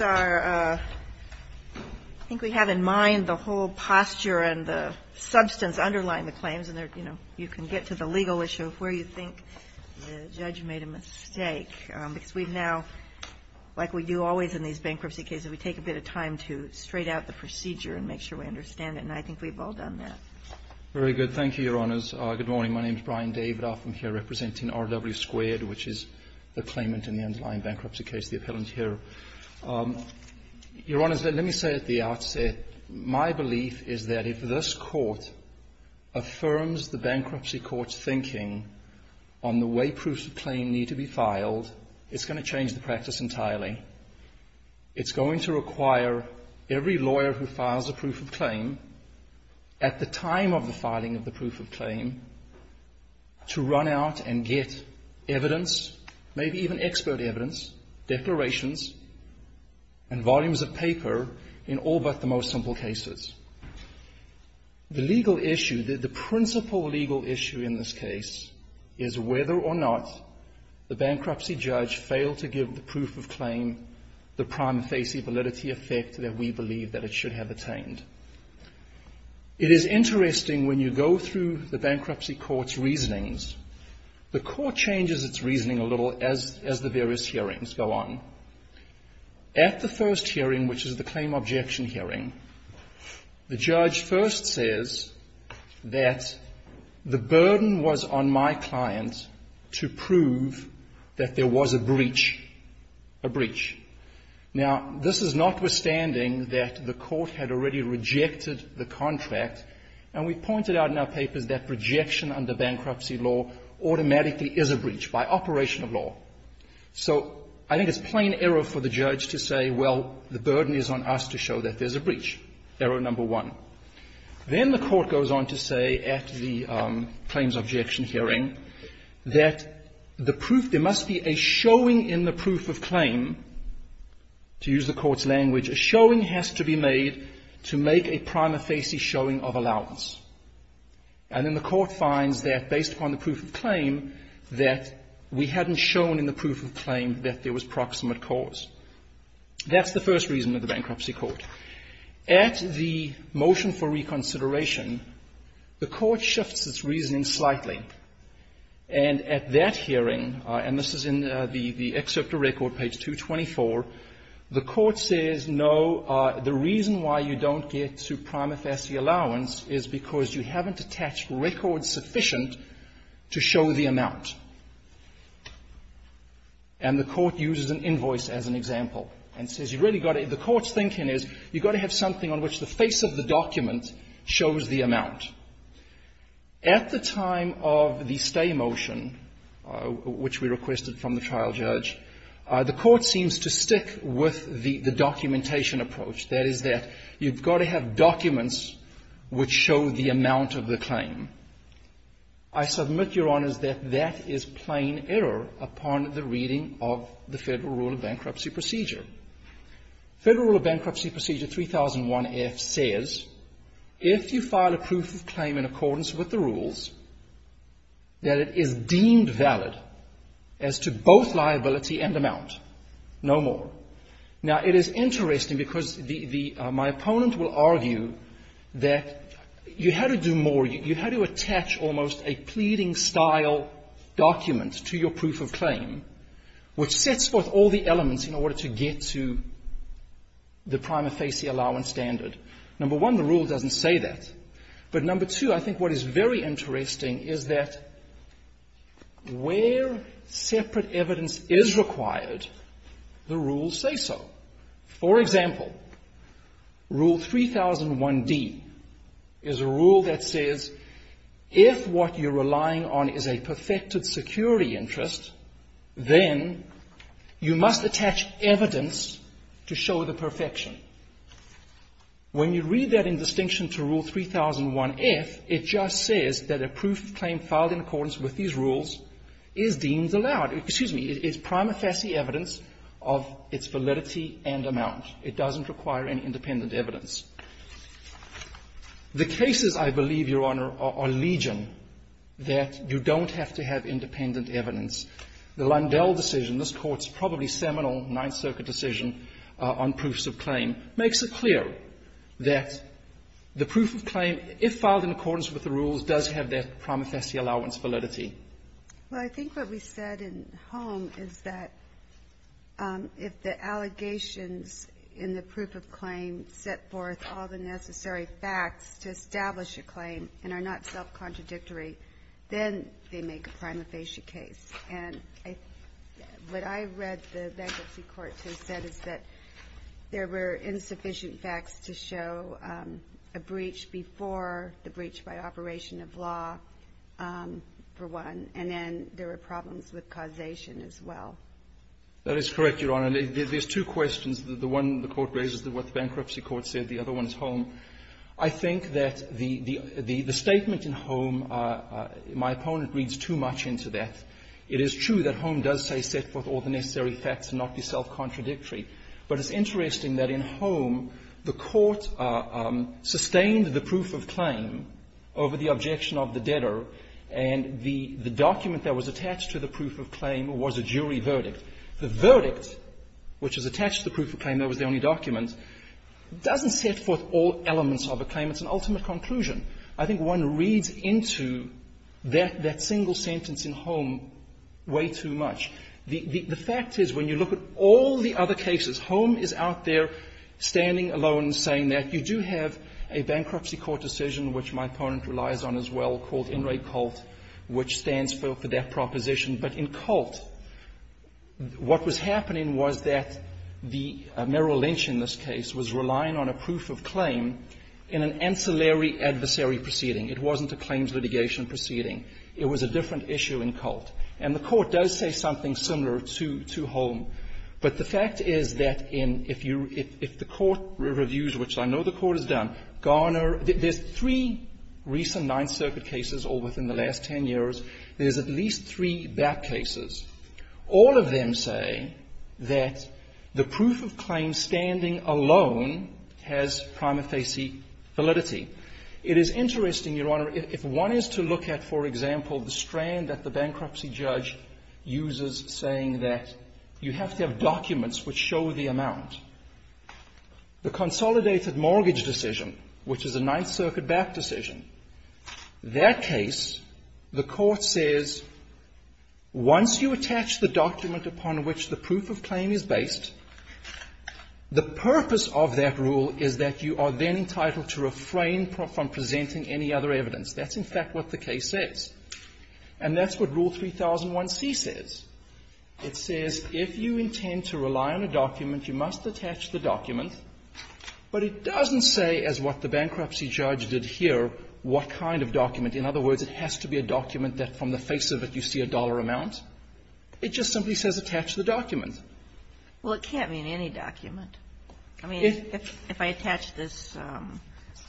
I think we have in mind the whole posture and the substance underlying the claims, and you can get to the legal issue of where you think the judge made a mistake, because we've now, like we do always in these bankruptcy cases, we take a bit of time to straight out the procedure and make sure we understand it, and I think we've all done that. Very good. Thank you, Your Honors. Good morning. My name is Brian Davidoff. I'm here representing RW Squared, which is the claimant in the underlying bankruptcy case, the appellant here. Your Honors, let me say at the outset, my belief is that if this court affirms the bankruptcy court's thinking on the way proofs of claim need to be filed, it's going to change the practice entirely. It's going to require every lawyer who files a proof of claim at the time of the filing of the proof of claim to run out and get evidence, maybe even expert evidence, declarations, and volumes of paper in all but the most simple cases. The legal issue, the principal legal issue in this case is whether or not the bankruptcy judge failed to give the proof of claim the prime facie validity effect that we believe that it should have attained. It is interesting when you go through the bankruptcy court's reasonings, the court changes its reasoning a little as the various hearings go on. At the first hearing, which is the claim objection hearing, the judge first says that the burden was on my client to prove that there was a breach, a breach. Now, this is notwithstanding that the court had already rejected the contract, and we pointed out in our papers that rejection under bankruptcy law automatically is a breach by operation of law. So I think it's plain error for the judge to say, well, the burden is on us to show that there's a breach, error number one. Then the court goes on to say at the claims objection hearing that the proof, there must be a showing in the proof of claim, to use the court's language, a showing has to be made to make a prime facie showing of allowance. And then the court finds that, based upon the proof of claim, that we hadn't shown in the proof of claim that there was proximate cause. That's the first reason of the bankruptcy court. At the motion for reconsideration, the court shifts its reasoning slightly. And at that hearing, and this is in the excerpt of record, page 224, the court says, no, the reason why you don't get to prime facie allowance is because you haven't attached records sufficient to show the amount. And the court uses an invoice as an example and says you've really got to, the court's thinking is you've got to have something on which the face of the document shows the amount. At the time of the stay motion, which we requested from the trial judge, the court seems to stick with the documentation approach. That is that you've got to have documents which show the amount of the claim. I submit, Your Honors, that that is plain error upon the reading of the Federal Rule of Bankruptcy Procedure. Federal Rule of Bankruptcy Procedure 3001F says if you file a proof of claim in accordance with the rules, that it is deemed valid as to both liability and amount, no more. Now, it is interesting because the the my opponent will argue that you had to do more. You had to attach almost a pleading-style document to your proof of claim, which sets forth all the elements in order to get to the prime facie allowance standard. Number one, the rule doesn't say that. But number two, I think what is very interesting is that where separate evidence is required, the rules say so. For example, Rule 3001D is a rule that says if what you're relying on is a perfected security interest, then you must attach evidence to show the perfection. When you read that in distinction to Rule 3001F, it just says that a proof of claim filed in accordance with these rules is deemed allowed. Excuse me. It's prime facie evidence of its validity and amount. It doesn't require any independent evidence. The cases, I believe, Your Honor, are legion, that you don't have to have independent evidence. The Lundell decision, this Court's probably seminal Ninth Circuit decision on proofs of claim, makes it clear that the proof of claim, if filed in accordance with the rules, does have that prime facie allowance validity. Well, I think what we said in Holm is that if the allegations in the proof of claim set forth all the necessary facts to establish a claim and are not self-contradictory, then they make a prime facie case. And what I read the bankruptcy court to have said is that there were insufficient facts to show a breach before the breach by operation of law, for one. And then there were problems with causation as well. That is correct, Your Honor. There's two questions. The one the Court raises is what the bankruptcy court said. The other one is Holm. I think that the statement in Holm, my opponent reads too much into that. It is true that Holm does say set forth all the necessary facts and not be self-contradictory. But it's interesting that in Holm, the Court sustained the proof of claim over the objection of the debtor, and the document that was attached to the proof of claim was a jury verdict. The verdict, which is attached to the proof of claim, that was the only document, doesn't set forth all elements of a claim. It's an ultimate conclusion. I think one reads into that single sentence in Holm way too much. The fact is, when you look at all the other cases, Holm is out there standing alone, saying that you do have a bankruptcy court decision, which my opponent relies on as well, called INRAE-COLT, which stands for debt proposition. But in COLT, what was happening was that the Merrill Lynch in this case was relying on a proof of claim in an ancillary adversary proceeding. It wasn't a claims litigation proceeding. It was a different issue in COLT. And the Court does say something similar to Holm. But the fact is that in the Court reviews, which I know the Court has done, Garner – there's three recent Ninth Circuit cases all within the last ten years. There's at least three back cases. All of them say that the proof of claim standing alone has prima facie validity. It is interesting, Your Honor, if one is to look at, for example, the strand at the bankruptcy judge uses, saying that you have to have documents which show the amount. The consolidated mortgage decision, which is a Ninth Circuit-backed decision, that case, the Court says, once you attach the document upon which the proof of claim is based, the purpose of that rule is that you are then entitled to refrain from presenting any other evidence. That's, in fact, what the case says. And that's what Rule 3001C says. It says, if you intend to rely on a document, you must attach the document. But it doesn't say, as what the bankruptcy judge did here, what kind of document. In other words, it has to be a document that from the face of it you see a dollar amount. It just simply says attach the document. Well, it can't mean any document. I mean, if I attach this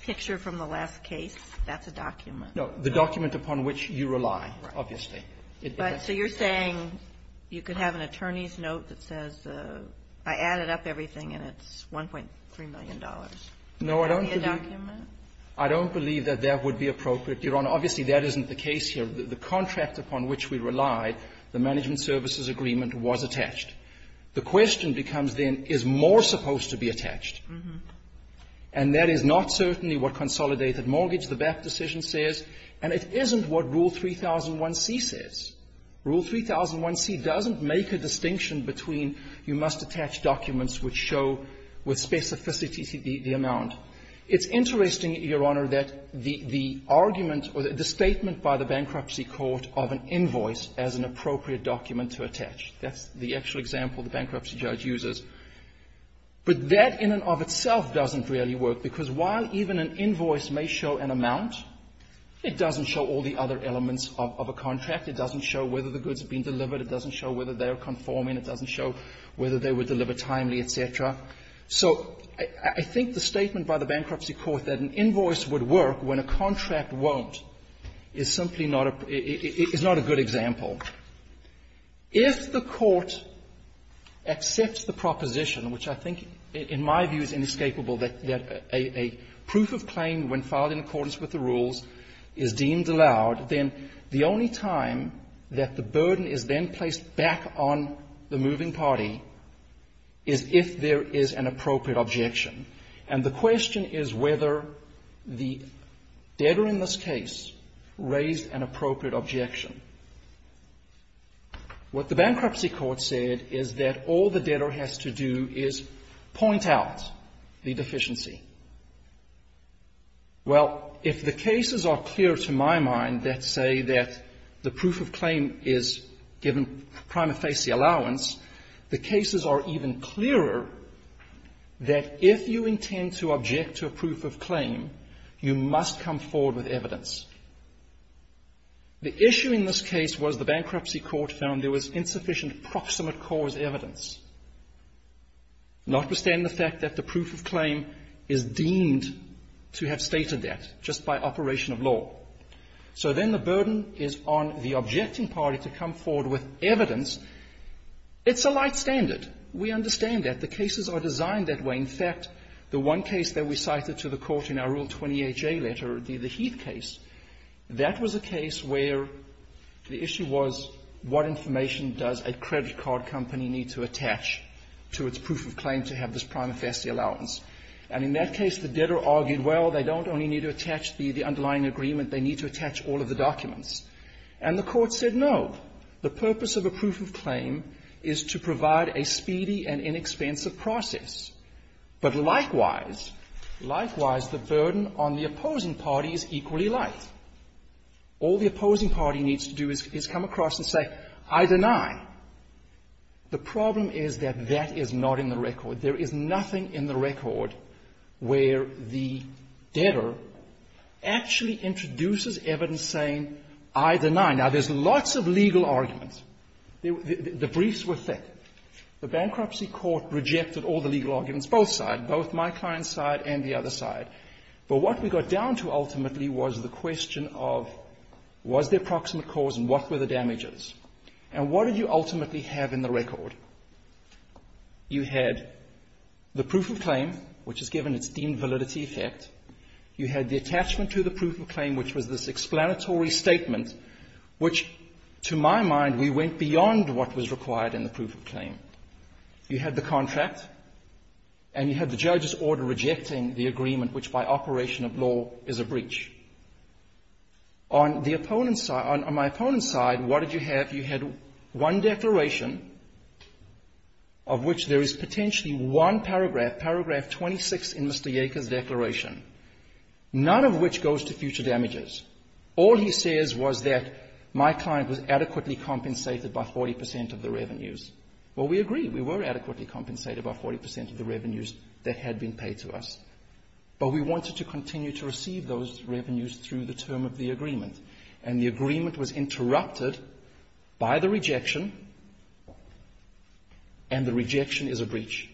picture from the last case, that's a document. No. The document upon which you rely, obviously. But so you're saying you could have an attorney's note that says, I added up everything and it's $1.3 million. No, I don't believe that. I don't believe that that would be appropriate, Your Honor. Obviously, that isn't the case here. The contract upon which we relied, the management services agreement, was attached. The question becomes, then, is more supposed to be attached? And that is not certainly what consolidated mortgage, the back decision, says. And it isn't what Rule 3001c says. Rule 3001c doesn't make a distinction between you must attach documents which show with specificity the amount. It's interesting, Your Honor, that the argument or the statement by the bankruptcy court of an invoice as an appropriate document to attach, that's the actual example the bankruptcy judge uses. But that in and of itself doesn't really work, because while even an invoice may show an amount, it doesn't show all the other elements of a contract. It doesn't show whether the goods have been delivered. It doesn't show whether they are conforming. It doesn't show whether they were delivered timely, et cetera. So I think the statement by the bankruptcy court that an invoice would work when a contract won't is simply not a good example. If the court accepts the proposition, which I think in my view is inescapable, that a proof of claim, when filed in accordance with the rules, is deemed allowed, then the only time that the burden is then placed back on the moving party is if there is an appropriate objection. And the question is whether the debtor in this case raised an appropriate objection. What the bankruptcy court said is that all the debtor has to do is point out the deficiency. Well, if the cases are clear to my mind that say that the proof of claim is given prima facie allowance, the cases are even clearer that if you intend to object to a proof of claim, you must come forward with evidence. The issue in this case was the bankruptcy court found there was insufficient proximate cause evidence, notwithstanding the fact that the proof of claim is deemed to have stated that just by operation of law. So then the burden is on the objecting party to come forward with evidence. It's a light standard. We understand that. The cases are designed that way. In fact, the one case that we cited to the Court in our Rule 28J letter, the Heath case, that was a case where the issue was what information does a credit card company need to attach to its proof of claim to have this prima facie allowance. And in that case, the debtor argued, well, they don't only need to attach the underlying agreement, they need to attach all of the documents. And the Court said no. The purpose of a proof of claim is to provide a speedy and inexpensive process. But likewise, likewise, the burden on the opposing party is equally light. All the opposing party needs to do is come across and say, I deny. The problem is that that is not in the record. There is nothing in the record where the debtor actually introduces evidence saying, I deny. Now, there's lots of legal arguments. The briefs were thick. The bankruptcy court rejected all the legal arguments, both sides, both my client's side and the other side. But what we got down to ultimately was the question of was there proximate cause and what were the damages. And what did you ultimately have in the record? You had the proof of claim, which is given its deemed validity effect. You had the attachment to the proof of claim, which was this explanatory statement, which, to my mind, we went beyond what was required in the proof of claim. You had the contract, and you had the judge's order rejecting the agreement, which by operation of law is a breach. On the opponent's side, on my opponent's side, what did you have? You had one declaration of which there is potentially one paragraph, paragraph 26 in Mr. Yeager's declaration, none of which goes to future damages. All he says was that my client was adequately compensated by 40 percent of the revenues. Well, we agree. We were adequately compensated by 40 percent of the revenues that had been paid to us. But we wanted to continue to receive those revenues through the term of the agreement. And the agreement was interrupted by the rejection, and the rejection is a breach.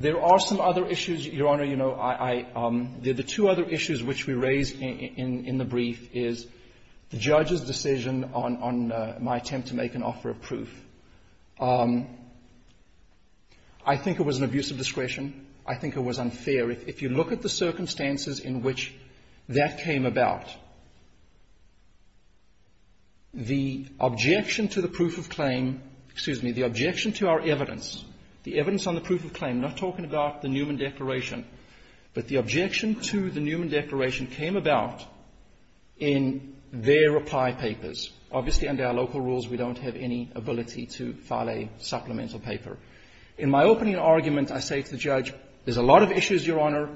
There are some other issues, Your Honor. Your Honor, you know, I — the two other issues which we raise in the brief is the judge's decision on my attempt to make an offer of proof. I think it was an abuse of discretion. I think it was unfair. If you look at the circumstances in which that came about, the objection to the proof of claim — excuse me, the objection to our evidence, the evidence on the proof of the Newman Declaration, but the objection to the Newman Declaration came about in their reply papers. Obviously, under our local rules, we don't have any ability to file a supplemental paper. In my opening argument, I say to the judge, there's a lot of issues, Your Honor.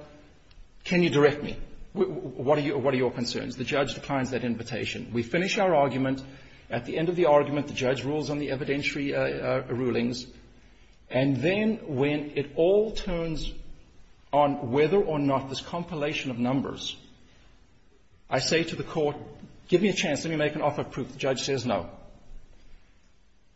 Can you direct me? What are your concerns? The judge declines that invitation. We finish our argument. At the end of the argument, the judge rules on the evidentiary rulings. And then when it all turns on whether or not this compilation of numbers, I say to the court, give me a chance, let me make an offer of proof, the judge says no.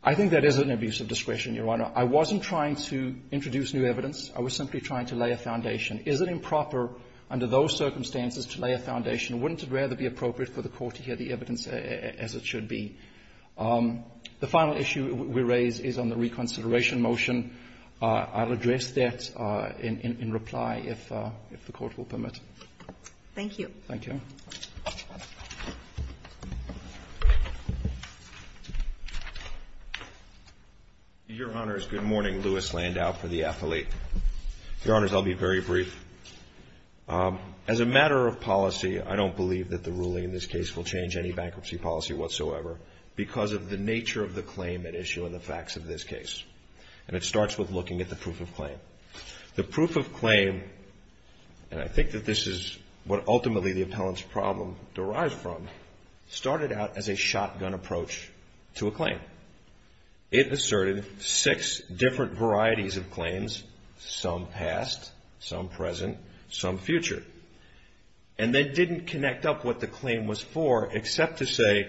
I think that is an abuse of discretion, Your Honor. I wasn't trying to introduce new evidence. I was simply trying to lay a foundation. Is it improper under those circumstances to lay a foundation? Wouldn't it rather be appropriate for the court to hear the evidence as it should be? The final issue we raise is on the reconsideration motion. I'll address that in reply if the court will permit. Thank you. Thank you. Your Honors, good morning. Louis Landau for the affiliate. Your Honors, I'll be very brief. As a matter of policy, I don't believe that the ruling in this case will change any bankruptcy policy whatsoever. Because of the nature of the claim at issue and the facts of this case. And it starts with looking at the proof of claim. The proof of claim, and I think that this is what ultimately the appellant's problem derives from, started out as a shotgun approach to a claim. It asserted six different varieties of claims, some past, some present, some future. And then didn't connect up what the claim was for except to say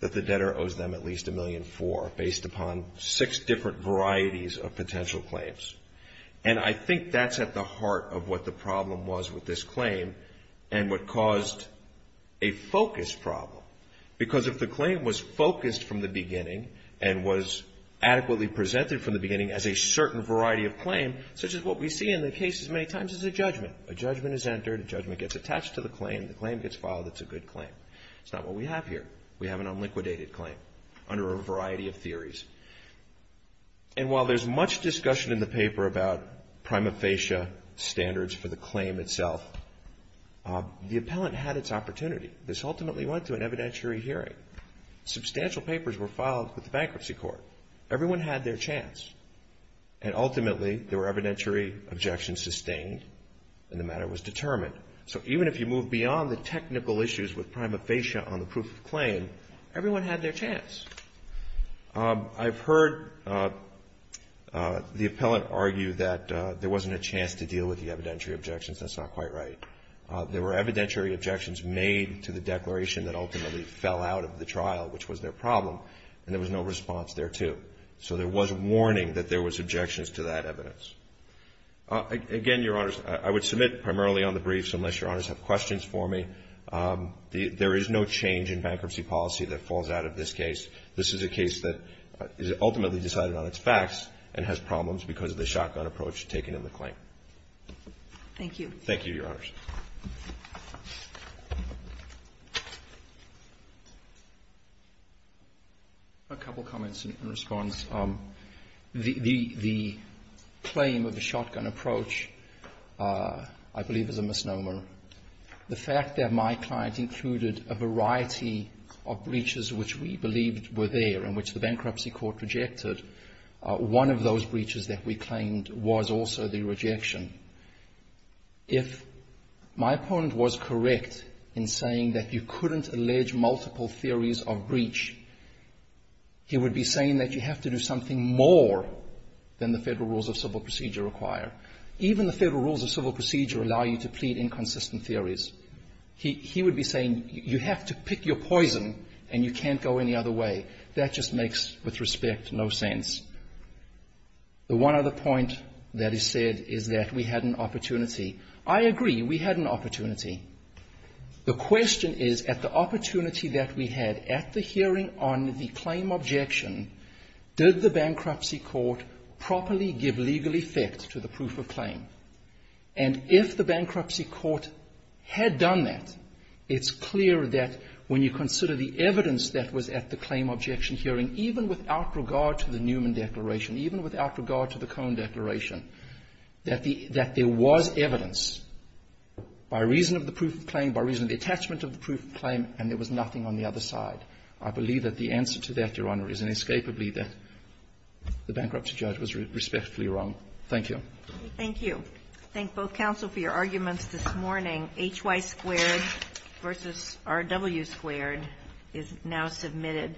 that the debtor owes them at least a million for, based upon six different varieties of potential claims. And I think that's at the heart of what the problem was with this claim. And what caused a focus problem. Because if the claim was focused from the beginning and was adequately presented from the beginning as a certain variety of claim, such as what we see in the case as many times as a judgment. A judgment is entered, a judgment gets attached to the claim, the claim gets filed, it's a good claim. It's not what we have here. We have an unliquidated claim under a variety of theories. And while there's much discussion in the paper about prima facie standards for the claim itself, the appellant had its opportunity. This ultimately went to an evidentiary hearing. Substantial papers were filed with the bankruptcy court. Everyone had their chance. And ultimately, there were evidentiary objections sustained, and the matter was determined. So even if you move beyond the technical issues with prima facie on the proof of claim, everyone had their chance. I've heard the appellant argue that there wasn't a chance to deal with the evidentiary objections, that's not quite right. There were evidentiary objections made to the declaration that ultimately fell out of the trial, which was their problem, and there was no response thereto. So there was warning that there was objections to that evidence. Again, Your Honors, I would submit primarily on the briefs unless Your Honors have questions for me. There is no change in bankruptcy policy that falls out of this case. This is a case that is ultimately decided on its facts and has problems because of the shotgun approach taken in the claim. Thank you. Thank you, Your Honors. A couple comments in response. The claim of the shotgun approach, I believe, is a misnomer. The fact that my client included a variety of breaches which we believed were there and which the bankruptcy court rejected, one of those breaches that we claimed was also the rejection. If my opponent was correct in saying that you couldn't allege multiple theories of breach, he would be saying that you have to do something more than the Federal Rules of Civil Procedure require. Even the Federal Rules of Civil Procedure allow you to plead inconsistent theories. He would be saying you have to pick your poison and you can't go any other way. That just makes, with respect, no sense. The one other point that is said is that we had an opportunity. I agree we had an opportunity. The question is, at the opportunity that we had at the hearing on the claim objection, did the bankruptcy court properly give legal effect to the proof of claim? And if the bankruptcy court had done that, it's clear that when you consider the evidence that was at the claim objection hearing, even without regard to the Newman Declaration, even without regard to the Cohn Declaration, that there was evidence by reason of the proof of claim, by reason of the attachment of the proof of claim, and there was nothing on the other side. I believe that the answer to that, Your Honor, is inescapably that the bankruptcy judge was respectfully wrong. Thank you. Thank you. I thank both counsel for your arguments this morning. HY squared versus RW squared is now submitted.